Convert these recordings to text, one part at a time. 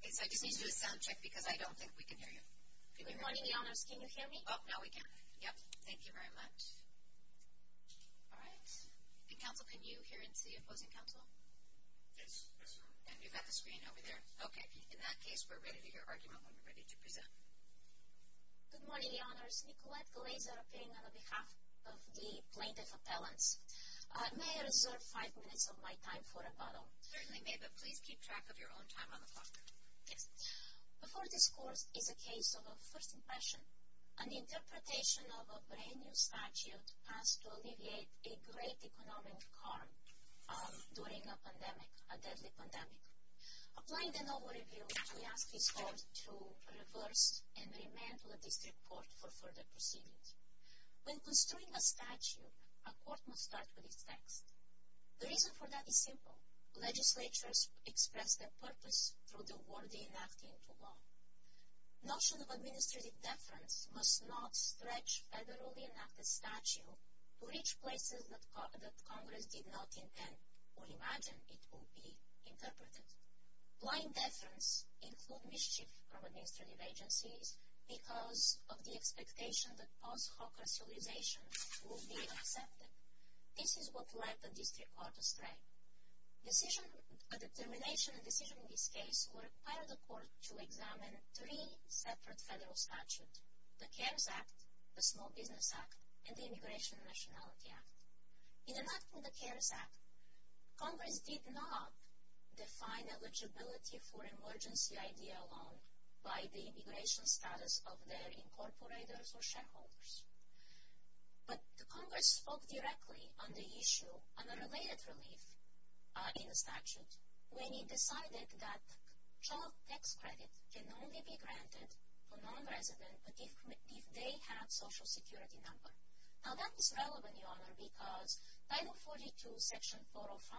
Okay, so I just need you to sound check because I don't think we can hear you. Good morning, Your Honors. Can you hear me? Oh, no, we can't. Yep. Thank you very much. All right. And, Counsel, can you hear and see Opposing Counsel? Yes. Yes, ma'am. And you've got the screen over there. Okay. In that case, we're ready to hear your argument when we're ready to present. Good morning, Your Honors. Nicolette Glazer, appearing on behalf of the Plaintiff Appellants. May I reserve five minutes of my time for a bottle? Certainly may, but please keep track of your own time on the clock. Yes. Before this court is a case of a first impression, an interpretation of a brand-new statute passed to alleviate a great economic harm during a pandemic, a deadly pandemic. Applying the novel review, we ask this court to reverse and re-mantle this report for further proceedings. When construing a statute, a court must start with its text. The reason for that is simple. Legislatures express their purpose through the word they enact into law. Notion of administrative deference must not stretch federally enacted statute to reach places that Congress did not intend or imagine it will be interpreted. Blind deference includes mischief from administrative agencies because of the expectation that post-hoc racialization will be accepted. This is what led the district court astray. A determination and decision in this case required the court to examine three separate federal statutes, the CARES Act, the Small Business Act, and the Immigration and Nationality Act. In enacting the CARES Act, Congress did not define eligibility for emergency ID alone by the immigration status of their incorporators or shareholders. But Congress spoke directly on the issue, on the related relief in the statute, when it decided that child tax credit can only be granted to non-residents if they have a social security number. Now that is relevant, Your Honor, because Title 42, Section 405,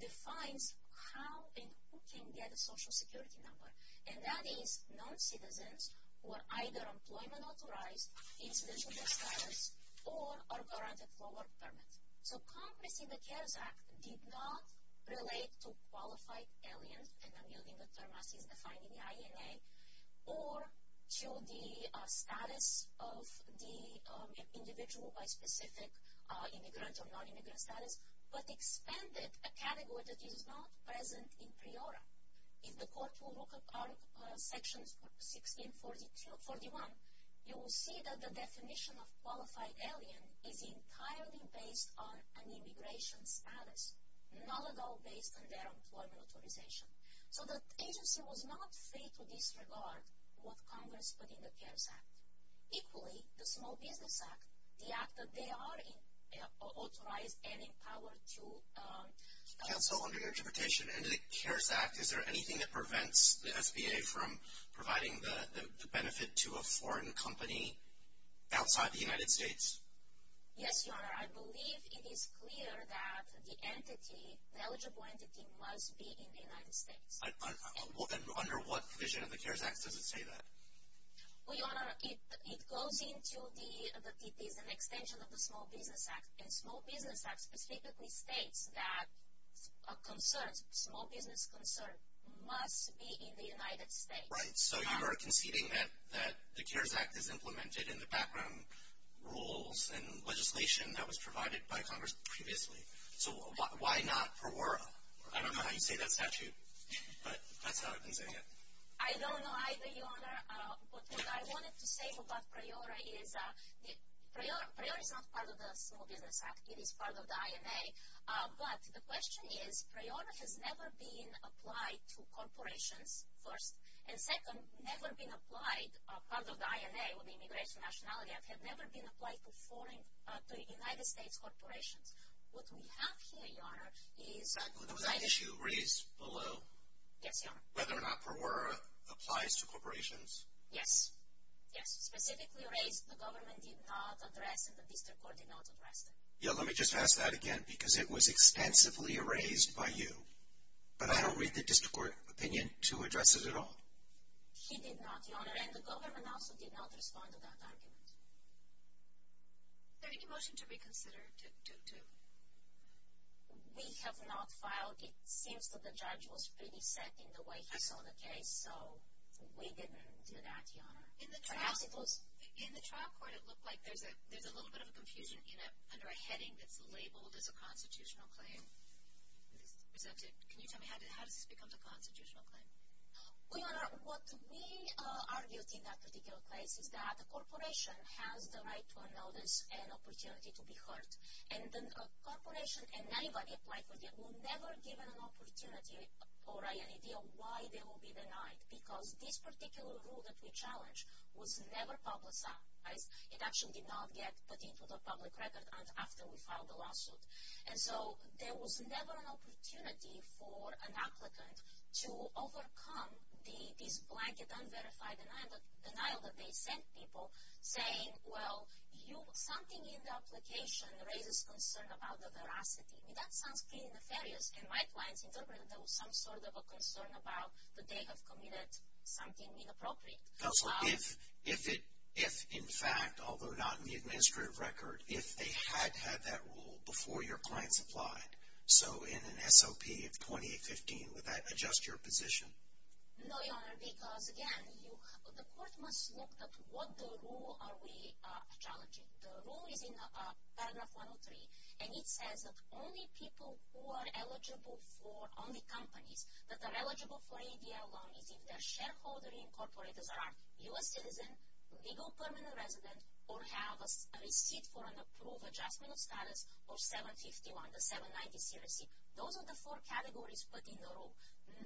defines how and who can get a social security number. And that is non-citizens who are either employment authorized, in special care status, or are granted forward permits. So Congress in the CARES Act did not relate to qualified aliens, and I'm using the term as is defined in the INA, or to the status of the individual by specific immigrant or non-immigrant status, but expanded a category that is not present in PRIORA. If the court will look at Article 1641, you will see that the definition of qualified alien is entirely based on an immigration status, not at all based on their employment authorization. So the agency was not free to disregard what Congress put in the CARES Act. Equally, the Small Business Act, the act that they are authorized and empowered to... Counsel, under your interpretation, under the CARES Act, is there anything that prevents the SBA from providing the benefit to a foreign company outside the United States? Yes, Your Honor. I believe it is clear that the entity, the eligible entity, must be in the United States. And under what provision of the CARES Act does it say that? Well, Your Honor, it goes into the, it is an extension of the Small Business Act, and Small Business Act specifically states that a concern, a small business concern must be in the United States. Right. So you are conceding that the CARES Act is implemented in the background rules and legislation that was provided by Congress previously. So why not PRIORA? I don't know how you say that statute, but that's how I've been saying it. I don't know either, Your Honor. What I wanted to say about PRIORA is that PRIORA is not part of the Small Business Act. It is part of the INA. But the question is PRIORA has never been applied to corporations, first. And second, never been applied, part of the INA, or the Immigration Nationality Act, had never been applied to foreign, to United States corporations. What we have here, Your Honor, is... There was an issue raised below. Yes, Your Honor. Whether or not PRIORA applies to corporations. Yes. Yes, specifically raised, the government did not address, and the district court did not address that. Yeah, let me just ask that again, because it was extensively raised by you. But I don't read the district court opinion to address it at all. He did not, Your Honor. And the government also did not respond to that argument. Are you making a motion to reconsider? We have not filed. But it seems that the judge was pretty set in the way he saw the case, so we didn't do that, Your Honor. Perhaps it was... In the trial court, it looked like there's a little bit of a confusion under a heading that's labeled as a constitutional claim. Can you tell me how does this become a constitutional claim? Well, Your Honor, what we argued in that particular case is that a corporation has the right to a notice and opportunity to be heard. And then a corporation and anybody applied for that were never given an opportunity or an idea why they will be denied, because this particular rule that we challenged was never publicized. It actually did not get put into the public record after we filed the lawsuit. And so there was never an opportunity for an applicant to overcome this blanket, unverified denial that they sent people saying, well, something in the application raises concern about the veracity. I mean, that sounds pretty nefarious. And my clients interpreted there was some sort of a concern about that they have committed something inappropriate. So if in fact, although not in the administrative record, if they had had that rule before your clients applied, so in an SOP of 2015, would that adjust your position? No, Your Honor, because again, the court must look at what the rule are we challenging. The rule is in paragraph 103. And it says that only people who are eligible for, only companies that are eligible for ADL loans, if they're shareholder incorporated, are U.S. citizens, legal permanent residents, or have a receipt for an approved adjustment of status or 751, the 790 CRC. Those are the four categories put in the rule.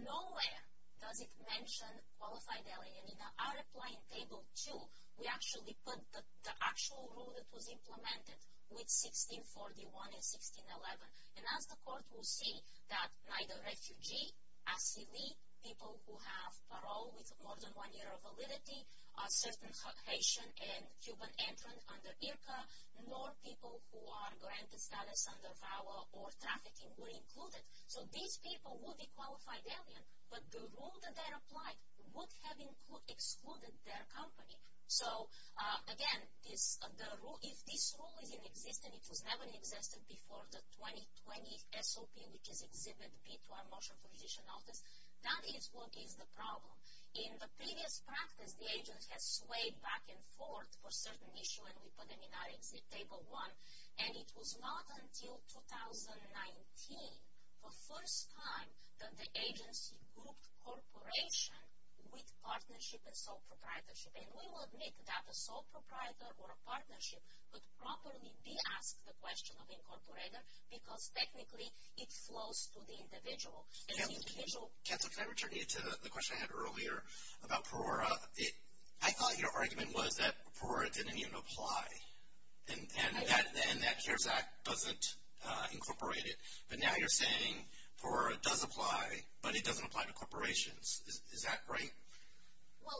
Nowhere does it mention qualified alien. In our applying table two, we actually put the actual rule that was implemented with 1641 and 1611. And as the court will see that neither refugee, asylee, people who have parole with more than one year of validity, a certain Haitian and Cuban entrant under IRCA, nor people who are granted status under VAWA or trafficking were included. So these people would be qualified alien, but the rule that they're applied would have excluded their company. So again, if this rule is in existence, it was never in existence before the 2020 SOP, which is Exhibit B to our motion for position notice, that is what is the problem. In the previous practice, the agent has swayed back and forth for certain issue, and we put them in our Exhibit Table 1. And it was not until 2019, the first time that the agency grouped corporation with partnership and sole proprietorship. And we will admit that a sole proprietor or a partnership would properly be asked the question of incorporator because technically it flows to the individual. And the individual... Can I return you to the question I had earlier about Perora? I thought your argument was that Perora didn't even apply. And that CARES Act doesn't incorporate it. But now you're saying Perora does apply, but it doesn't apply to corporations. Is that right? Well,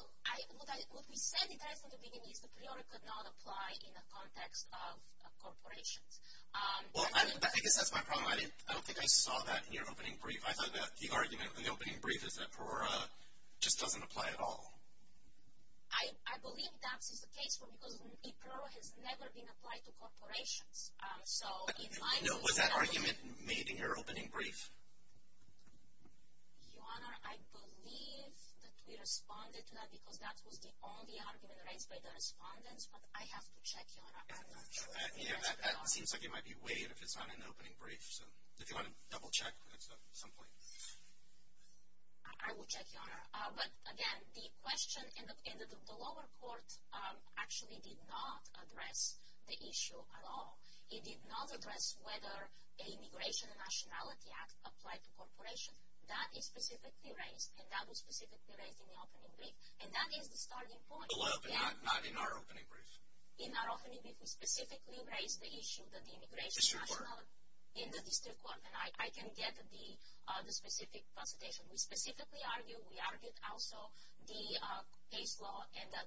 what we said in the beginning is that Perora could not apply in the context of corporations. Well, I guess that's my problem. I don't think I saw that in your opening brief. I thought that the argument in the opening brief is that Perora just doesn't apply at all. I believe that's the case because Perora has never been applied to corporations. Was that argument made in your opening brief? Your Honor, I believe that we responded to that because that was the only argument raised by the respondents. But I have to check, Your Honor. I'm not sure. That seems like it might be weighed if it's not in the opening brief. So if you want to double check at some point. I will check, Your Honor. But again, the question in the lower court actually did not address the issue at all. It did not address whether the Immigration and Nationality Act applied to corporations. That is specifically raised, and that was specifically raised in the opening brief. And that is the starting point. Well, not in our opening brief. In our opening brief, we specifically raised the issue that the Immigration and Nationality Act... In the district court. In the district court, and I can get the specific consultation. We specifically argued, we argued also the case law and that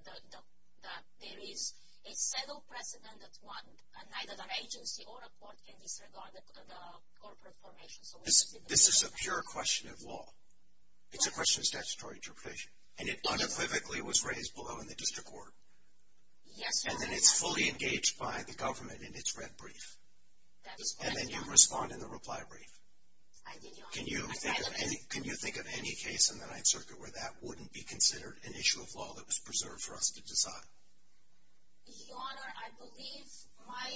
there is a settled precedent that neither an agency or a court can disregard the corporate formation. This is a pure question of law. It's a question of statutory interpretation. And it unequivocally was raised below in the district court. Yes, Your Honor. And then it's fully engaged by the government And then you respond in the reply brief. I did, Your Honor. Can you think of any case in the Ninth Circuit where that wouldn't be considered an issue of law that was preserved for us to decide? Your Honor, I believe my...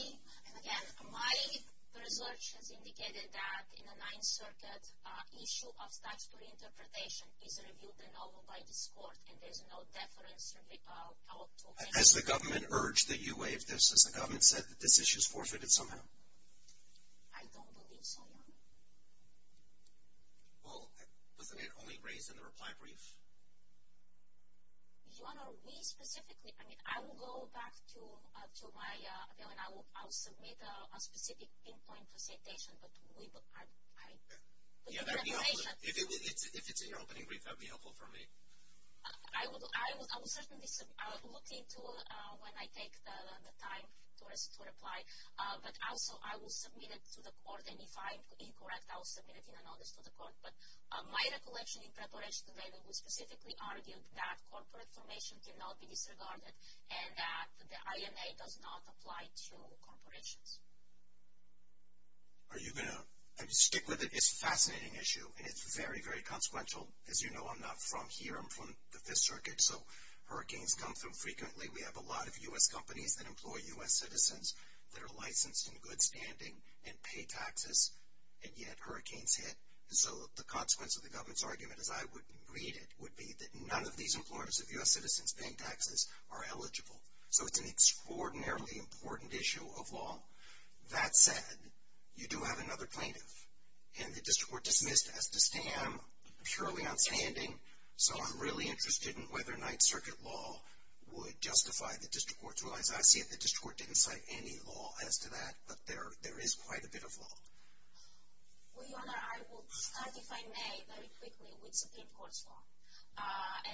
And again, my research has indicated that in the Ninth Circuit, issue of statutory interpretation is reviewed by this court and there is no deference... Has the government urged that you waive this? I don't believe so, Your Honor. Well, wasn't it only raised in the reply brief? Your Honor, we specifically... I mean, I will go back to my appeal and I will submit a specific pinpoint recitation. But we... Yeah, that would be helpful. If it's in your opening brief, that would be helpful for me. I will certainly look into it when I take the time to reply. But also, I will submit it to the court and if I am incorrect, I will submit it in a notice to the court. But my recollection in preparation today was specifically argued that corporate information cannot be disregarded and that the INA does not apply to corporations. Are you going to... Stick with it. It's a fascinating issue and it's very, very consequential. As you know, I'm not from here. I'm from the Fifth Circuit, so hurricanes come through frequently. We have a lot of U.S. companies that employ U.S. citizens that are licensed in good standing and pay taxes and yet hurricanes hit. So the consequence of the government's argument, as I would read it, would be that none of these employers of U.S. citizens paying taxes are eligible. So it's an extraordinarily important issue of law. That said, you do have another plaintiff and the district court dismissed as the stam purely outstanding. So I'm really interested in whether Ninth Circuit law would justify the district court's ruling. I see that the district court didn't cite any law as to that, but there is quite a bit of law. Well, Your Honor, I will start, if I may, very quickly with Supreme Court's law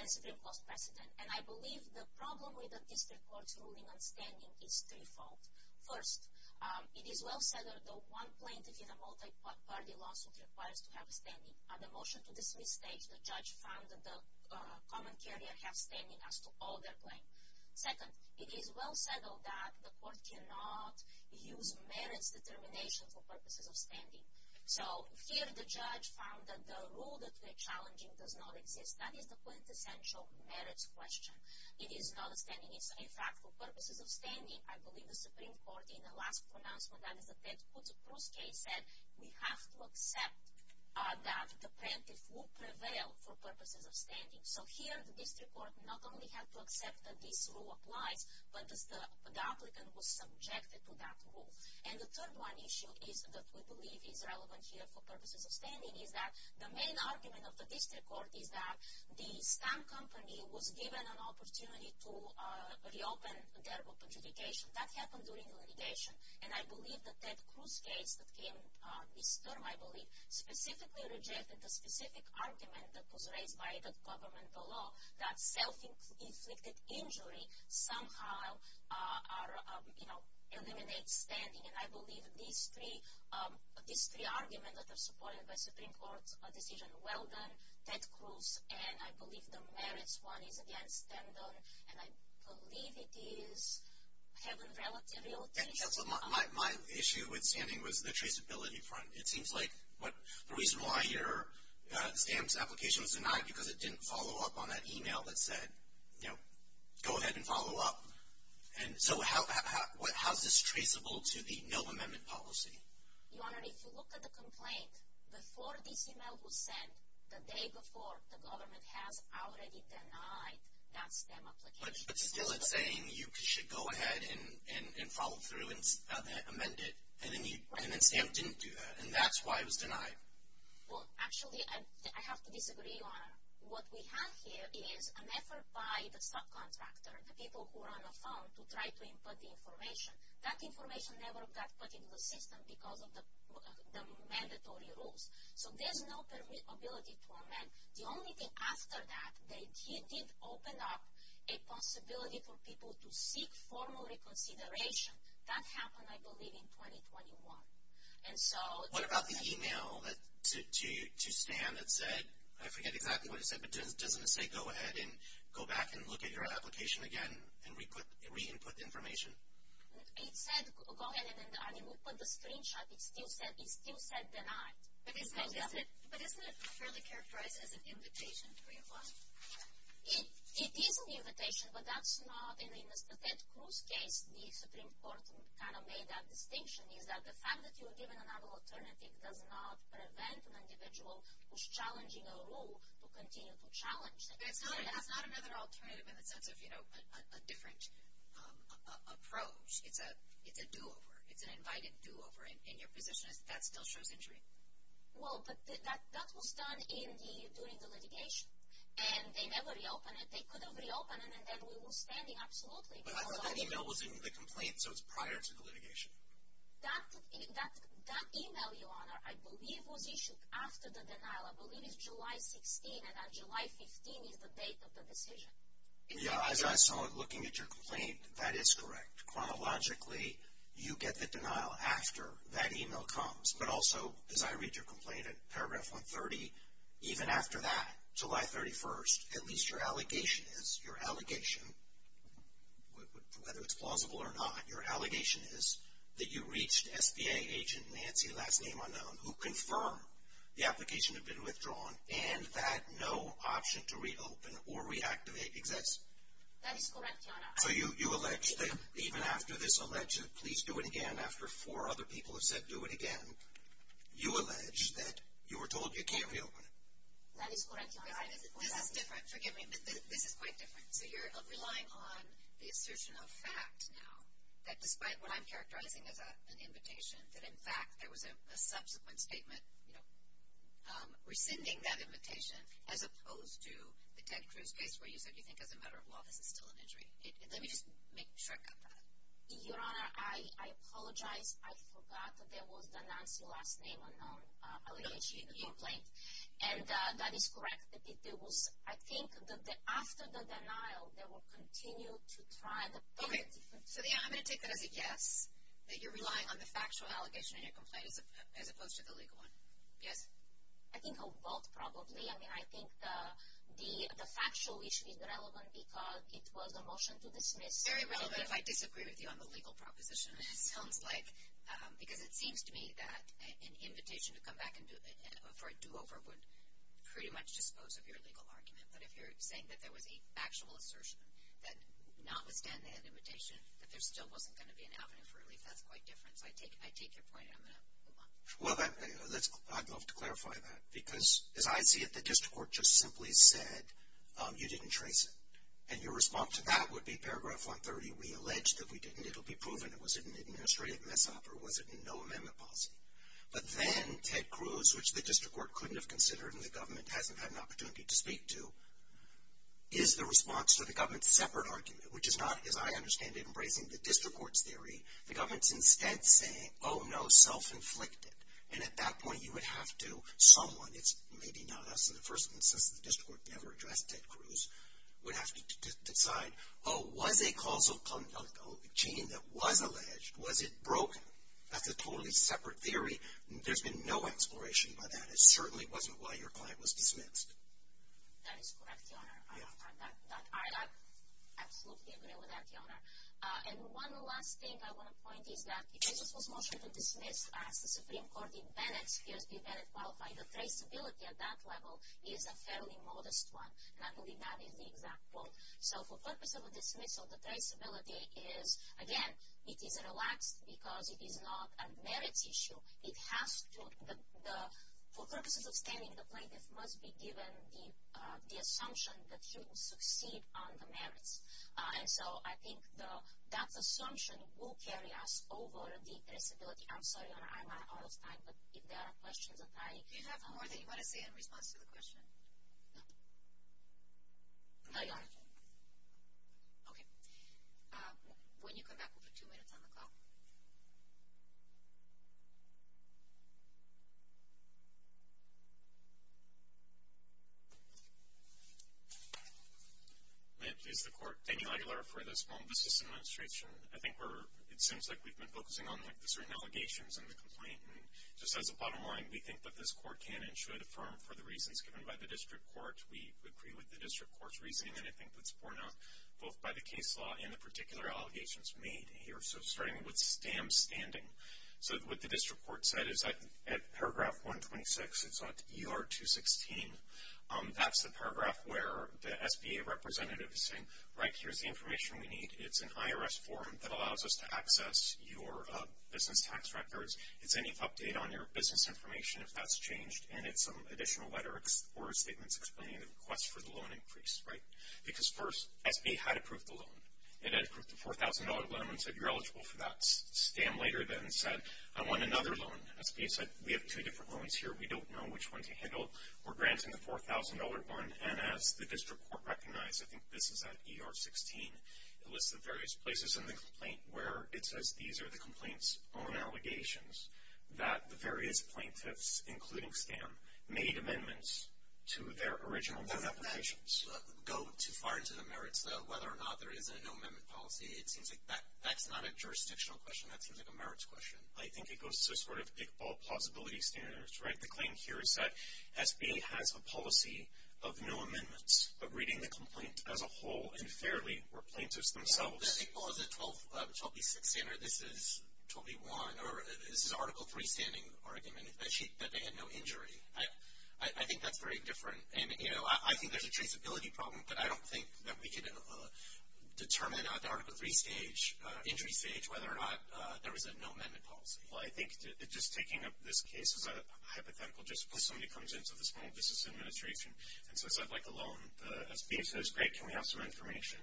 and Supreme Court's precedent. And I believe the problem with the district court's ruling on standing is threefold. First, it is well settled that one plaintiff in a multi-party lawsuit requires to have standing. On the motion to dismiss stage, the judge found that the common carrier has standing as to all their claim. Second, it is well settled that the court cannot use merits determination for purposes of standing. So here the judge found that the rule that we are challenging does not exist. That is the quintessential merits question. It is not a standing issue. In fact, for purposes of standing, I believe the Supreme Court in the last pronouncement, that is the Ted Cruz case, said we have to accept that the plaintiff will prevail for purposes of standing. So here the district court not only has to accept that this rule applies, but the applicant was subjected to that rule. And the third one issue is that we believe is relevant here for purposes of standing is that the main argument of the district court is that the stamp company was given an opportunity to reopen their book of litigation. That happened during the litigation. And I believe the Ted Cruz case that came this term, I believe, specifically rejected the specific argument that was raised by the government below that self-inflicted injury somehow eliminates standing. And I believe these three arguments that are supported by Supreme Court's decision, Weldon, Ted Cruz, and I believe the merits one is against Standon. And I believe it is having relatively... My issue with standing was the traceability front. It seems like the reason why your stamp application was denied because it didn't follow up on that email that said, you know, go ahead and follow up. And so how is this traceable to the no amendment policy? Your Honor, if you look at the complaint, before this email was sent, the day before, the government has already denied that stamp application. But still it's saying you should go ahead and follow through and amend it. And then the stamp didn't do that. And that's why it was denied. Well, actually, I have to disagree, Your Honor. What we have here is an effort by the subcontractor, the people who are on the phone, to try to input the information. That information never got put into the system because of the mandatory rules. So there's no ability to amend. The only thing after that, they did open up a possibility for people to seek formal reconsideration. That happened, I believe, in 2021. And so... What about the email to Stan that said, I forget exactly what it said, but doesn't it say, go ahead and go back and look at your application again and re-input information? It said, go ahead and re-input the screenshot. It still said denied. But isn't it fairly characterized as an invitation for your boss? It is an invitation, but that's not... In Mr. Ted Cruz's case, the Supreme Court kind of made that distinction, is that the fact that you were given another alternative does not prevent an individual who's challenging a rule to continue to challenge that rule. That's not another alternative in the sense of, you know, a different approach. It's a do-over. It's an invited do-over. And your position is that still shows injury? Well, but that was done during the litigation. And they never reopened it. They could have reopened it and then we were standing absolutely... But I thought that email was in the complaint, so it's prior to the litigation. That email, Your Honor, I believe was issued after the denial. I believe it's July 16, and on July 15 is the date of the decision. Yeah, as I saw it, looking at your complaint, that is correct. Chronologically, you get the denial after that email comes. But also, as I read your complaint, at paragraph 130, even after that, July 31st, at least your allegation is, your allegation, whether it's plausible or not, your allegation is that you reached SBA agent Nancy, last name unknown, who confirmed the application had been withdrawn and that no option to reopen or reactivate exists. That is correct, Your Honor. So you allege that even after this allegation, please do it again, after four other people have said do it again, you allege that you were told you can't reopen it. That is correct, Your Honor. This is different. Forgive me, but this is quite different. So you're relying on the assertion of fact now that despite what I'm characterizing as an invitation, that in fact there was a subsequent statement, rescinding that invitation as opposed to the Ted Cruz case where you said you think as a matter of law this is still an injury. Let me just make a short cut to that. Your Honor, I apologize. I forgot that there was the Nancy, last name unknown, allegation in the complaint. And that is correct. I think that after the denial, they will continue to try to Okay. So yeah, I'm going to take that as a yes, that you're relying on the factual allegation in your complaint as opposed to the legal one. Yes? I think of both probably. I mean, I think the factual issue is relevant because it was a motion to dismiss. Very relevant if I disagree with you on the legal proposition. It sounds like, because it seems to me that an invitation to come back for a do-over would pretty much dispose of your legal argument. But if you're saying that there was an actual assertion that notwithstanding the invitation, that there still wasn't going to be an avenue for relief, that's quite different. So I take your point. I'm going to move on. Well, I'd love to clarify that. Because as I see it, the district court just simply said, you didn't trace it. And your response to that would be paragraph 130, we allege that we didn't. It'll be proven. Was it an administrative mess-up or was it in no amendment policy? But then Ted Cruz, which the district court couldn't have considered and the government hasn't had an opportunity to speak to, is the response to the government's separate argument, which is not, as I understand it, embracing the district court's theory. The government's instead saying, oh no, self-inflicted. And at that point, you would have to, someone, it's maybe not us, and the first instance the district court never addressed Ted Cruz, would have to decide, oh, was a causal gene that was alleged, was it broken? That's a totally separate theory. There's been no exploration by that. It certainly wasn't why your client was dismissed. That is correct, Your Honor. Yeah. I absolutely agree with that, Your Honor. And one last thing I want to point is that if this was motioned to dismiss as the Supreme Court in Bennett's case, did Bennett qualify, the traceability at that level is a fairly modest one. And I believe that is the exact quote. So for purpose of a dismissal, the traceability is, again, it is relaxed because it is not a merits issue. It has to, for purposes of standing, the plaintiff must be given the assumption that he will succeed on the merits. And so, I think that assumption will carry us over the traceability. I'm sorry, Your Honor, I'm out of time, but if there are questions that I... Do you have more that you want to say in response to the question? No. No, Your Honor. Okay. When you come back, we'll put two minutes on the clock. Yes. May I please the Court, Daniel Aguilar for the Small Business Administration. I think we're, it seems like we've been focusing on, like, the certain allegations in the complaint. Just as a bottom line, we think that this Court can and should affirm for the reasons given by the District Court. We agree with the District Court's reasoning, and I think that's borne out both by the case law and the particular allegations made here. So, starting with Stam Standing. So, what the District Court said is that at paragraph 126, it's on ER 216. That's the paragraph where the SBA representative is saying, right, here's the information we need. It's an IRS form that allows us to access your business tax records. It's any update on your business information, if that's changed, and it's some additional letter or statements explaining the request for the loan increase, right? Because first, SBA had approved the loan. It had approved the $4,000 loan and said, you're eligible for that. Stam later then said, I want another loan. SBA said, we have two different loans here. We don't know which one to handle. We're granting the $4,000 one, and as the District Court recognized, I think this is at ER 16, it lists the various places in the complaint where it says these are the complaint's own allegations, that the various plaintiffs, including Stam, made amendments to their original loan applications. Go too far into the merits, though. Whether or not there is a no amendment policy, it seems like that's not a jurisdictional question. That seems like a merits question. I think it goes to sort of Iqbal plausibility standards, right? The claim here is that SBA has a policy of no amendments, but reading the complaint as a whole, and fairly, were plaintiffs themselves. Iqbal has a 12B6 standard. This is 12B1, or this is Article III standing argument, that they had no injury. I think that's very different. I think there's a traceability problem, but I don't think that we could determine at the Article III stage, injury stage, whether or not there was a no amendment policy. Well, I think just taking up this case is a hypothetical, just because somebody comes into the Small Business Administration and says, I'd like a loan. The SBA says, great, can we have some information?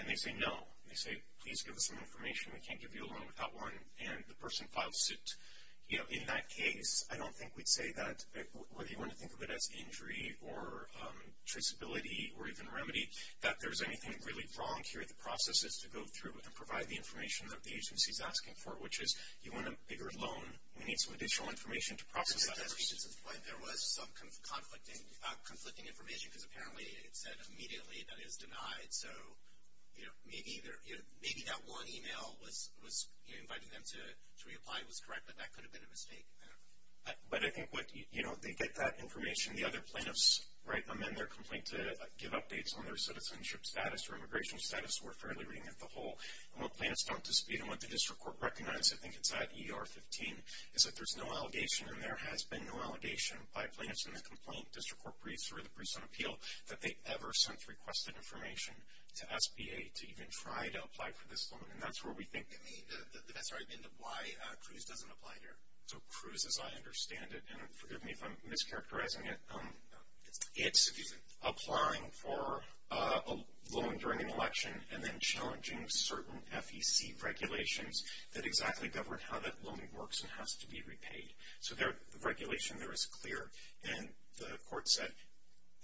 And they say no. They say, please give us some information. We can't give you a loan without one, and the person files suit. In that case, I don't think we'd say that, whether you want to think of it as injury or traceability or even remedy, that there's anything really wrong here. The process is to go through and provide the information that the agency's asking for, which is, you want a bigger loan. We need some additional information to process that. There was some conflicting information, because apparently it said immediately that it was denied, so maybe that one email was inviting them to reapply. It was correct, but that could have been a mistake. But I think they get that information. The other plaintiffs amend their complaint to give updates on their citizenship status or immigration status, so we're fairly reading it the whole. And what plaintiffs don't dispute and what the district court recognizes, I think it's at ER 15, is that there's no allegation, and there has been no allegation by plaintiffs in the complaint, district court briefs, or the briefs on appeal, that they ever since requested information to SBA to even try to apply for this loan. And that's where we think the best argument of why CRUISE doesn't apply here. So CRUISE, as I understand it, and forgive me if I'm mischaracterizing it, it's applying for a loan during an election and then challenging certain FEC regulations that exactly govern how that loan works and has to be repaid. So the regulation there is clear, and the court said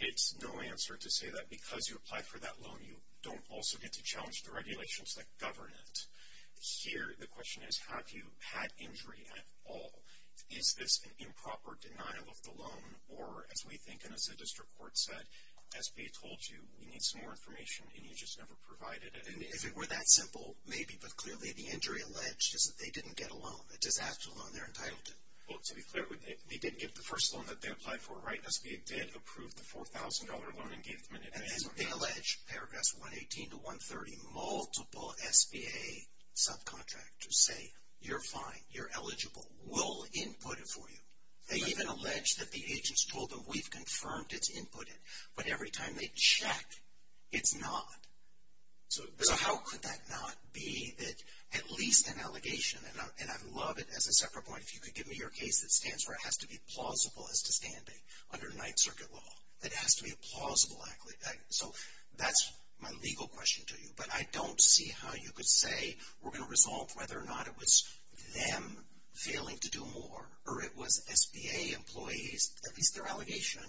it's no answer to say that because you apply for that loan, you don't also get to challenge the regulations that govern it. Here, the question is, have you had injury at all? Is this an improper denial of the loan, or as we think, and as the district court said, SBA told you, we need some more information, and you just never provided it? And if it were that simple, maybe, but clearly the injury alleged is that they didn't get a loan, a disaster loan they're entitled to. Well, to be clear, they didn't get the first loan that they applied for, right? SBA did approve the $4,000 loan and gave them an advance on that. And as they allege, paragraphs 118 to 130, multiple SBA subcontractors say, you're fine, you're eligible, we'll input it for you. They even allege that the agents told them, we've confirmed it's inputted, but every time they check, it's not. So how could that not be that at least an allegation, and I love it as a separate point, if you could give me your case that stands for it has to be plausible as to standing under Ninth Circuit law, that it has to be a plausible, so that's my legal question to you, but I don't see how you could say, we're going to resolve whether or not it was them failing to do more, or it was SBA employees, at least their allegation,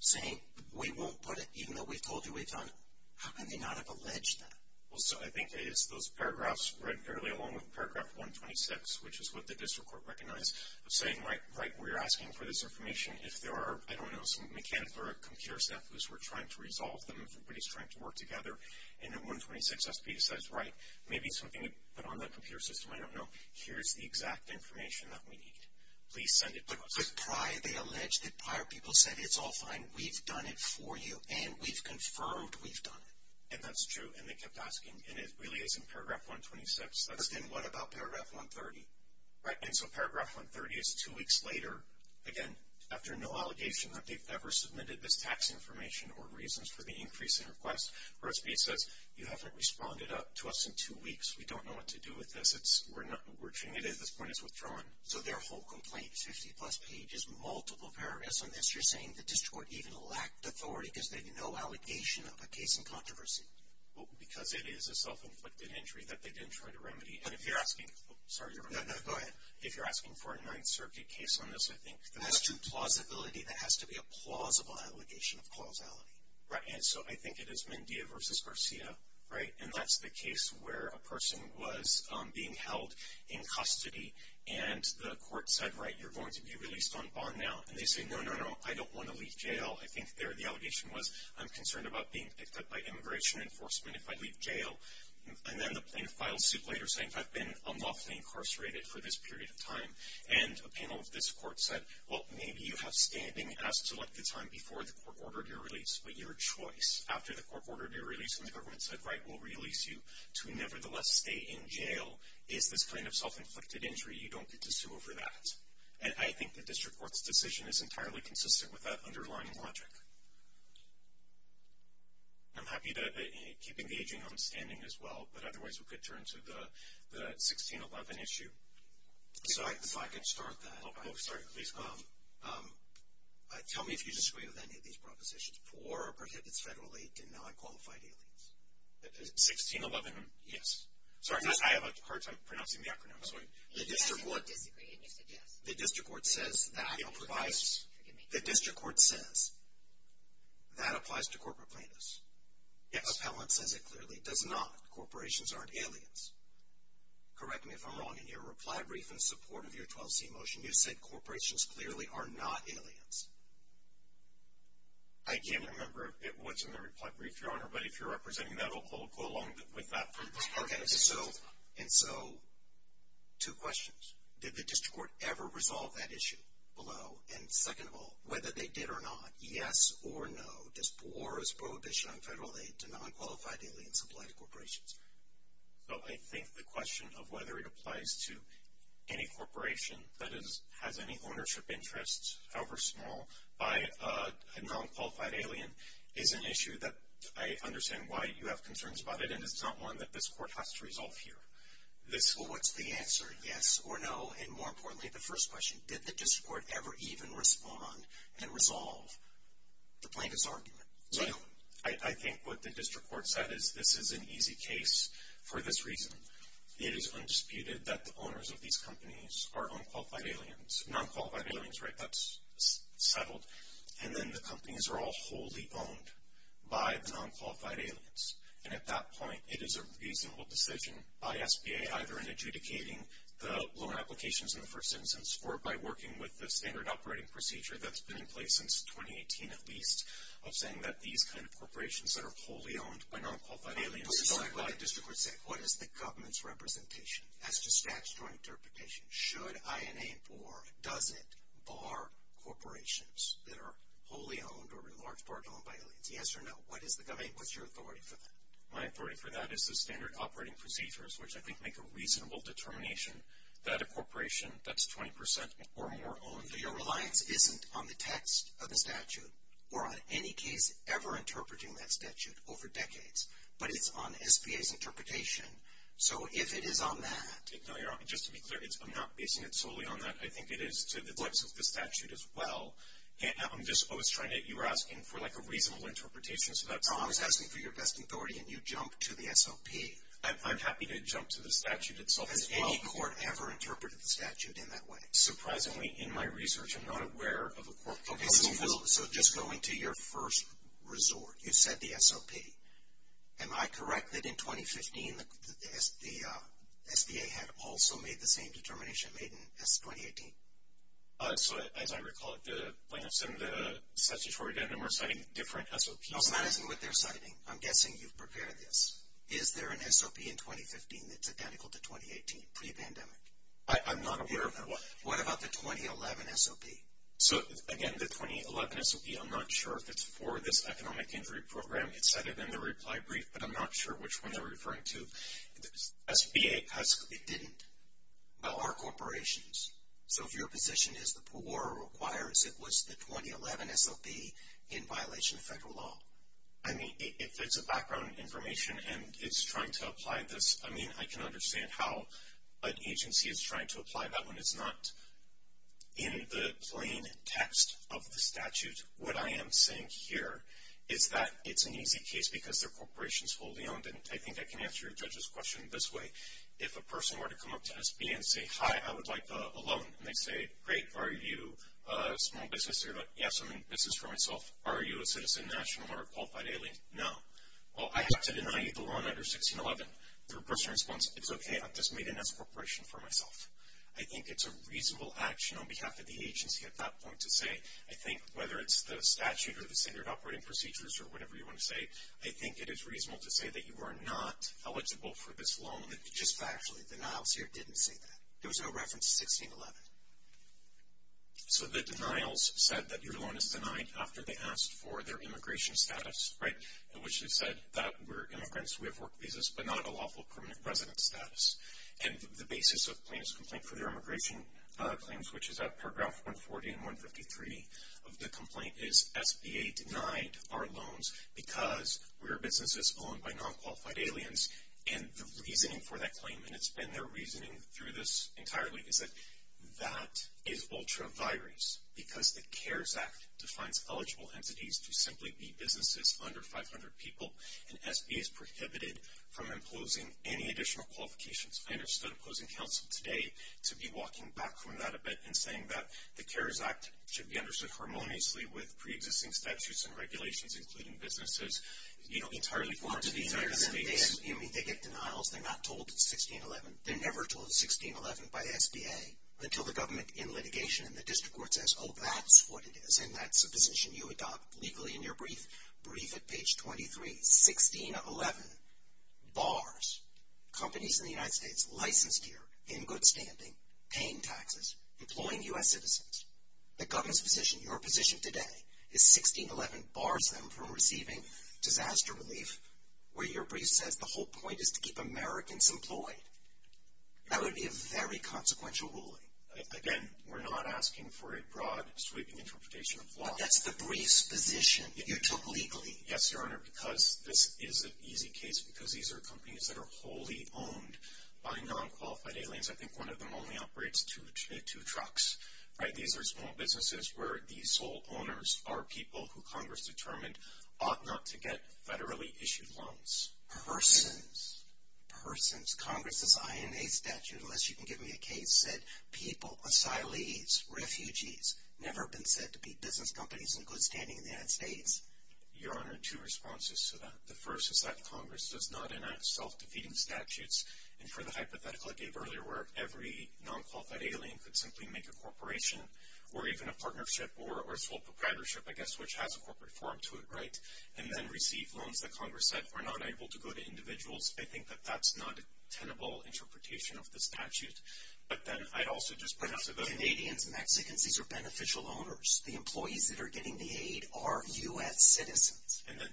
saying, we won't put it, even though we've told you we've done it. How can they not have alleged that? Well, so I think those paragraphs, read fairly along with paragraph 126, which is what the district court recognized, of saying, right, we're asking for this information, if there are, I don't know, some mechanical or computer set loose, we're trying to resolve them, if everybody's trying to work together, and then 126 SB decides, right, maybe something to put on that computer system, I don't know, here's the exact information that we need, please send it to us. But prior, they allege that prior people said, it's all fine, we've done it for you, and we've confirmed we've done it. And that's true, and they kept asking, and it really is in paragraph 126. Then what about paragraph 130? Right, and so paragraph 130 is two weeks later, again, after no allegation that they've ever submitted this tax information, or reasons for the increase in requests, where SBA says, you haven't responded to us in two weeks, we don't know what to do with this, we're changing it, at this point it's withdrawn. So their whole complaint is 50 plus pages, multiple paragraphs on this, you're saying the district court even lacked authority, because they had no allegation of a case in controversy? Well, because it is a self-inflicted injury that they didn't try to remedy, and if you're asking, oh, sorry, you're right, no, no, go ahead, if you're asking for a Ninth Circuit case on this, I think that's true. That's plausibility, that has to be a plausible allegation of causality. Right, and so I think it is Mendia versus Garcia, right, and that's the case where a person was being held in custody, and the court said, right, you're going to be released on bond now, and they say, no, no, no, I don't want to leave jail, I think the allegation was, I'm concerned about being picked up by immigration enforcement if I leave jail, and then the plaintiff files suit later, saying I've been unlawfully incarcerated for this period of time, and a panel of this court said, well, maybe you have standing as to what the time before the court ordered your release, but your choice, after the court ordered your release, and the government said, right, we will release you to nevertheless stay in jail, is this kind of self-inflicted injury. You don't get to sue over that, and I think the district court's decision is entirely consistent with that underlying logic. I'm happy to keep engaging on standing as well, but otherwise we could turn to the 1611 issue. If I could start that. Oh, sorry, please go ahead. Tell me if you disagree with any of these propositions. 1611, yes. Sorry, I have a hard time pronouncing the acronym. The district court says that applies to corporate plaintiffs. The appellant says it clearly does not. Corporations aren't aliens. Correct me if I'm wrong in your reply brief in support of your 12C motion. You said corporations clearly are not aliens. I can't remember what's in the reply brief, Your Honor, but if you're representing that, I'll go along with that from this part of the case. Okay, and so two questions. Did the district court ever resolve that issue below? And second of all, whether they did or not, yes or no, or is prohibition on federal aid to non-qualified alien-supplied corporations? So I think the question of whether it applies to any corporation that has any ownership interests, however small, by a non-qualified alien is an issue that I understand why you have concerns about it, and it's not one that this court has to resolve here. Well, what's the answer, yes or no? And more importantly, the first question, did the district court ever even respond and resolve the plaintiff's argument? I think what the district court said is this is an easy case for this reason. are non-qualified aliens, right? That's settled. And then the companies are all wholly owned by the non-qualified aliens. And at that point, it is a reasonable decision by SBA, either in adjudicating the loan applications in the first instance or by working with the standard operating procedure that's been in place since 2018 at least, of saying that these kind of corporations that are wholly owned by non-qualified aliens... What does the district court say? What is the government's representation as to statutory interpretation? Should INA or does it bar corporations that are wholly owned or in large part owned by aliens? Yes or no? What is the government... What's your authority for that? My authority for that is the standard operating procedures, which I think make a reasonable determination that a corporation that's 20% or more owned... Your reliance isn't on the text of the statute or on any case ever interpreting that statute over decades, but it's on SBA's interpretation. So if it is on that... Just to be clear, I'm not basing it solely on that. I think it is to the deluxe of the statute as well. I'm just... I was trying to... You were asking for, like, a reasonable interpretation, so that's... No, I was asking for your best authority, and you jumped to the SOP. I'm happy to jump to the statute itself as well. Has any court ever interpreted the statute in that way? Surprisingly, in my research, I'm not aware of a court... Okay, so just going to your first resort, you said the SOP. Am I correct that, in 2015, the SBA had also made the same determination made in 2018? So, as I recall it, the plaintiffs in the statutory agenda were citing different SOPs. No, that isn't what they're citing. I'm guessing you've prepared this. Is there an SOP in 2015 that's identical to 2018, pre-pandemic? I'm not aware of one. What about the 2011 SOP? So, again, the 2011 SOP, I'm not sure if it's for this economic injury program. It said it in the reply brief, but I'm not sure which one they're referring to. The SBA has... It didn't. Well, our corporations. So, if your position is the poor requires it was the 2011 SOP in violation of federal law. I mean, if it's a background information, and it's trying to apply this, I mean, I can understand how an agency is trying to apply that when it's not in the plain text of the statute. What I am saying here is that it's an easy case because their corporation is wholly owned, and I think I can answer your judge's question this way. If a person were to come up to SBA and say, hi, I would like a loan, and they say, great, are you a small business owner? Yes, I'm in business for myself. Are you a citizen, national, or a qualified alien? No. Well, I have to deny you the loan under 1611. Their personal response, it's okay, I just made it as a corporation for myself. I think it's a reasonable action on behalf of the agency at that point to say I think whether it's the statute or the standard operating procedures or whatever you want to say, I think it is reasonable to say that you are not eligible for this loan. Just factually, the denials here didn't say that. There was no reference to 1611. So the denials said that your loan is denied after they asked for their immigration status, right, which they said that we're immigrants, we have work visas, but not a lawful permanent resident status. And the basis of plaintiff's complaint for their immigration claims, which is at paragraph 140 and 153 of the complaint, is SBA denied our loans because we're businesses owned by non-qualified aliens. And the reasoning for that claim, and it's been their reasoning through this entirely, is that that is ultra-virus because the CARES Act defines eligible entities to simply be businesses under 500 people, and SBA is prohibited from imposing any additional qualifications. I understood opposing counsel today to be walking back from that event and saying that the CARES Act should be understood harmoniously with pre-existing statutes and regulations, including businesses, you know, entirely foreign to the United States. They get denials. They're not told it's 1611. They're never told it's 1611 by SBA until the government in litigation and the district court says, oh, that's what it is, and that's a position you adopt legally in your brief. Brief at page 23. 1611. Bars. Companies in the United States licensed here, in good standing, paying taxes, employing U.S. citizens. The government's position, your position today, is 1611 bars them from receiving disaster relief where your brief says the whole point is to keep Americans employed. That would be a very consequential ruling. Again, we're not asking for a broad sweeping interpretation of law. But that's the brief's position that you took legally. Yes, Your Honor, because this is an easy case because these are companies that are wholly owned by non-qualified aliens. I think one of them only operates two trucks. These are small businesses where the sole owners are people who Congress determined ought not to get federally issued loans. Persons. Persons. Congress's INA statute, unless you can give me a case, said people, asylees, refugees, never been said to be business companies in good standing in the United States. Your Honor, two responses to that. The first is that Congress does not enact self-defeating statutes. And for the hypothetical I gave earlier where every non-qualified alien could simply make a corporation or even a partnership or sole proprietorship, I guess, which has a corporate forum to it, right, and then receive loans that Congress said are not able to go to individuals, I think that that's not a tenable interpretation of the statute. But then I'd also just perhaps... But Canadians, Mexicans, these are beneficial owners. The employees that are getting the aid are U.S. citizens. And then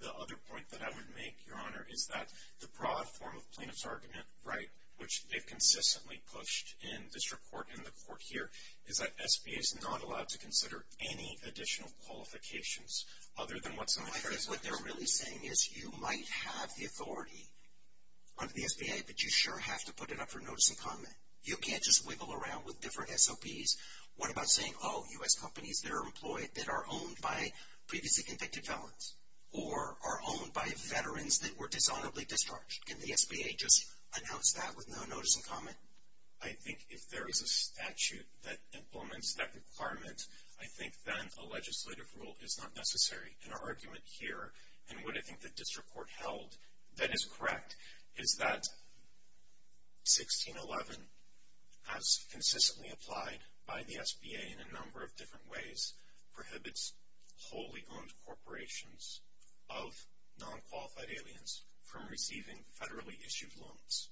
the other point that I would make, Your Honor, is that the broad form of plaintiff's argument, right, which they've consistently pushed in district court and the court here, is that SBA is not allowed to consider any additional qualifications other than what's in the statute. What they're really saying is you might have the authority under the SBA, but you sure have to put it up for notice and comment. You can't just wiggle around with different SOPs. What about saying, oh, U.S. companies that are employed that are owned by previously convicted felons or are owned by veterans that were dishonorably discharged? Can the SBA just announce that with no notice and comment? I think if there is a statute that implements that requirement, I think then a legislative rule is not necessary. And our argument here, and what I think the district court held that is correct, is that 1611, as consistently applied by the SBA in a number of different ways, prohibits wholly owned corporations of nonqualified aliens from receiving federally issued loans.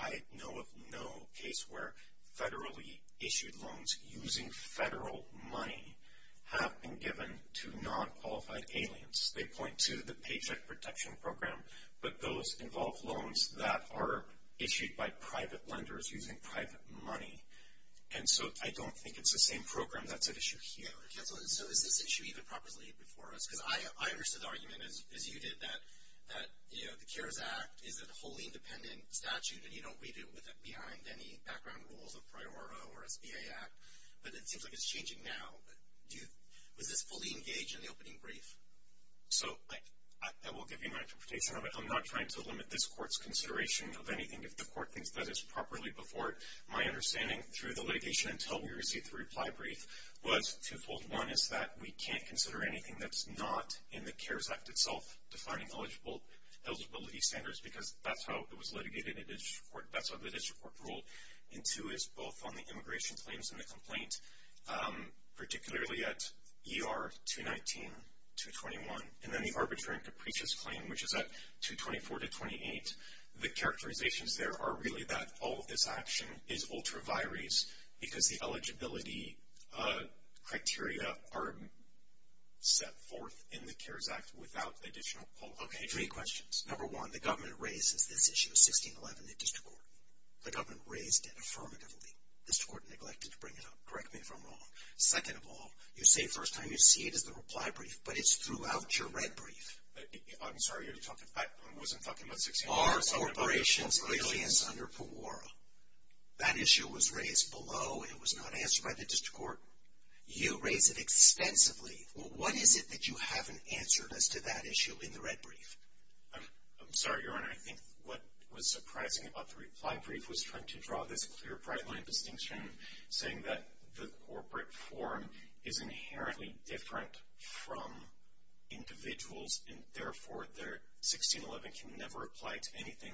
I know of no case where federally issued loans using federal money have been given to nonqualified aliens. They point to the Paycheck Protection Program, but those involve loans that are issued by private lenders using private money. And so I don't think it's the same program that's at issue here. So is this issue even properly before us? Because I understood the argument, as you did, that the CARES Act is a wholly independent statute, and you don't read it behind any background rules of PRIORO or SBA Act. But it seems like it's changing now. Was this fully engaged in the opening brief? I will give you an interpretation of it. I'm not trying to limit this court's consideration of anything. If the court thinks that it's properly before it, my understanding through the litigation until we received the reply brief, was twofold. One is that we can't consider anything that's not in the CARES Act itself defining eligibility standards, because that's how it was litigated. That's how the district court ruled. And two is both on the immigration claims and the complaint, particularly at ER 219-221, and then the arbitrator in Caprice's claim, which is at 224-28, the characterizations there are really that all of this action is ultra vires, because the eligibility criteria are set forth in the CARES Act without additional publication. Okay, three questions. Number one, the government raises this issue of 1611 in the district court. The government raised it affirmatively. The district court neglected to bring it up. Correct me if I'm wrong. Second of all, you say first time you see it is the reply brief, but it's throughout your red brief. I'm sorry. I wasn't talking about 1611. Are corporations aliens under PEMORA? That issue was raised below. It was not answered by the district court. You raised it extensively. What is it that you haven't answered as to that issue in the red brief? I'm sorry, Your Honor. I think what was surprising about the reply brief was trying to draw this clear, bright-line distinction, saying that the corporate form is inherently different from individuals, and therefore 1611 can never apply to anything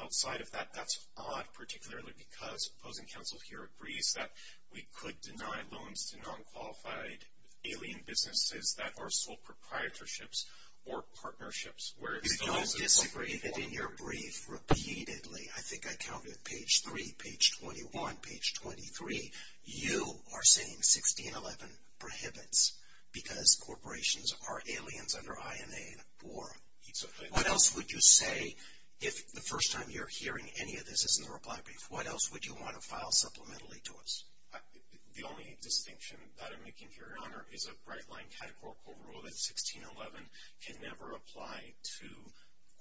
outside of that. That's odd, particularly because opposing counsel here agrees that we could deny loans to non-qualified alien businesses that are sole proprietorships or partnerships. We don't disagree that in your brief repeatedly, I think I counted page 3, page 21, page 23. You are saying 1611 prohibits because corporations are aliens under INA or PEMORA. What else would you say if the first time you're hearing any of this is in the reply brief? What else would you want to file supplementarily to us? The only distinction that I'm making here, Your Honor, is a bright-line categorical rule that 1611 can never apply to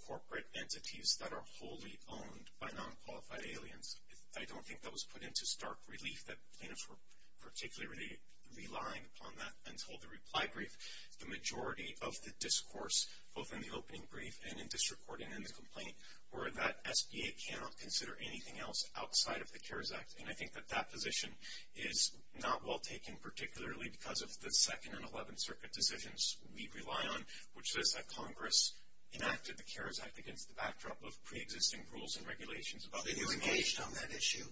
corporate entities that are wholly owned by non-qualified aliens. I don't think that was put into stark relief that plaintiffs were particularly relying upon that until the reply brief. The majority of the discourse, both in the opening brief and in district court and in the complaint, were that SBA cannot consider anything else outside of the CARES Act. And I think that that position is not well taken, particularly because of the 2nd and 11th Circuit decisions we rely on, which says that Congress enacted the CARES Act against the backdrop of pre-existing rules and regulations. But have you engaged on that issue?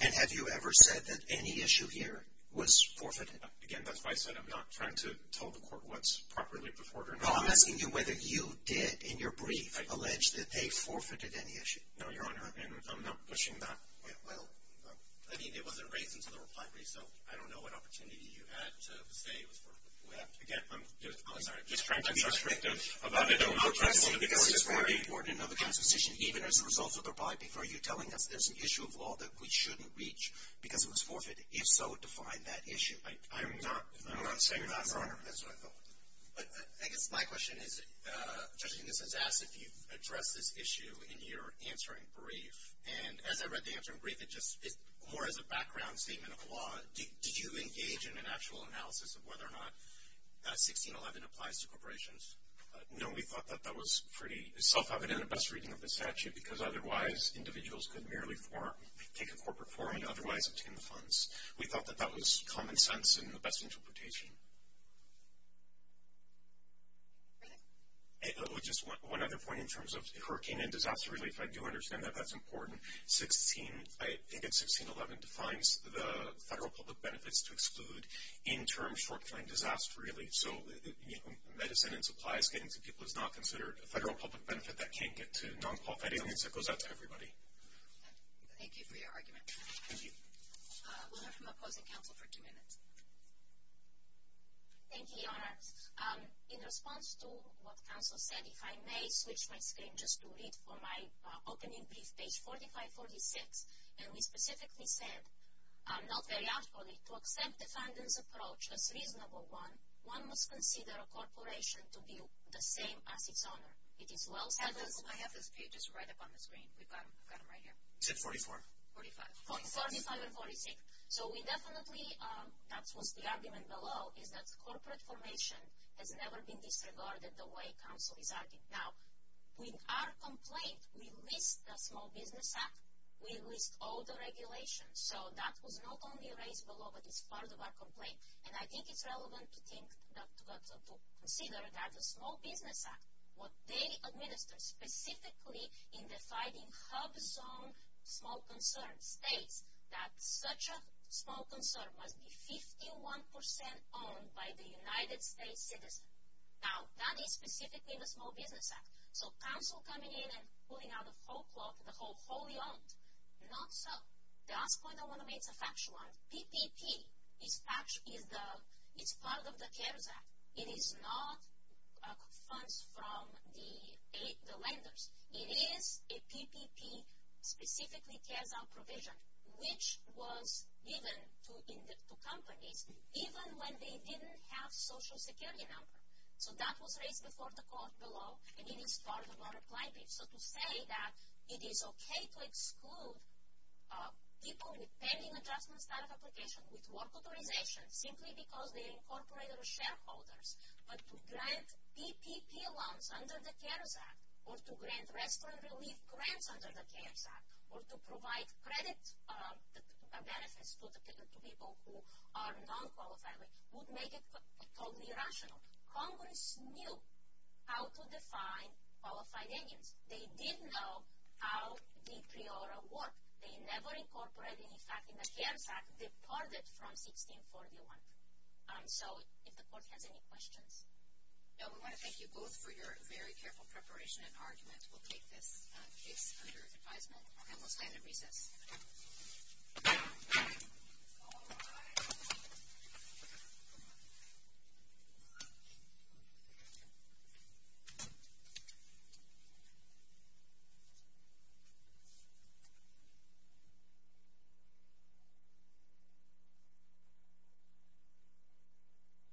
And have you ever said that any issue here was forfeited? Again, that's what I said. I'm not trying to tell the court what's properly before it or not. No, I'm asking you whether you did, in your brief, allege that they forfeited any issue. No, Your Honor, and I'm not pushing that. Well, I mean, it wasn't raised until the reply brief, so I don't know what opportunity you had to say it was forfeited. I'm sorry. I'm just trying to be descriptive about it. I'm just saying this is very important in other kinds of decisions, even as a result of the reply brief, are you telling us there's an issue of law that we shouldn't reach because it was forfeited? If so, define that issue. I'm not saying that, Your Honor. That's what I thought. I guess my question is, Judging this has asked if you've addressed this issue in your answering brief, and as I read the answering brief, it just is more as a background statement of the law. Did you engage in an actual analysis of whether or not 1611 applies to corporations? No, we thought that that was pretty self-evident in the best reading of the statute, because otherwise individuals could merely take a corporate form and otherwise obtain the funds. We thought that that was common sense in the best interpretation. Just one other point in terms of hurricane and disaster relief, I do understand that that's important. I think it's 1611 defines the federal public benefits to exclude in-term short-term disaster relief. So medicine and supplies getting to people is not considered a federal public benefit. That can't get to non-qualified aliens. That goes out to everybody. Thank you for your argument. Thank you. We'll hear from opposing counsel for two minutes. Thank you, Your Honor. In response to what counsel said, if I may switch my screen just to read from my opening brief page 45-46, and we specifically said, not very outwardly, to accept defendant's approach as reasonable one, one must consider a corporation to be the same as its owner. It is well stated. I have his pages right up on the screen. I've got them right here. Is it 44? 45. 45 and 46. So we definitely, that was the argument below, is that corporate formation has never been disregarded the way counsel is regarding. Now, with our complaint, we list the Small Business Act. We list all the regulations. So that was not only raised below, but it's part of our complaint. And I think it's relevant to think that, to consider that the Small Business Act, what they administered specifically in the Fighting HUBZone small concern, states that such a small concern must be 51% owned by the United States citizen. Now, that is specifically in the Small Business Act. So counsel coming in and pulling out the whole cloth, the whole wholly owned, not so. The last point I want to make is a factual one. PPP is part of the CARES Act. It is not funds from the lenders. It is a PPP, specifically CARES Act provision, which was given to companies even when they didn't have social security number. So that was raised before the court below, and it is part of our complaint. So to say that it is okay to exclude people with pending adjustment-style application with work authorization simply because they are incorporated shareholders, but to grant PPP loans under the CARES Act, or to grant restaurant relief grants under the CARES Act, or to provide credit benefits to people who are non-qualified, would make it totally irrational. Congress knew how to define qualified Indians. They did know how the pre-oral work. They never incorporated, in fact, in the CARES Act, departed from 1641. So if the court has any questions. No, we want to thank you both for your very careful preparation and argument. We'll take this case under advisement, and we'll stand at recess. All rise.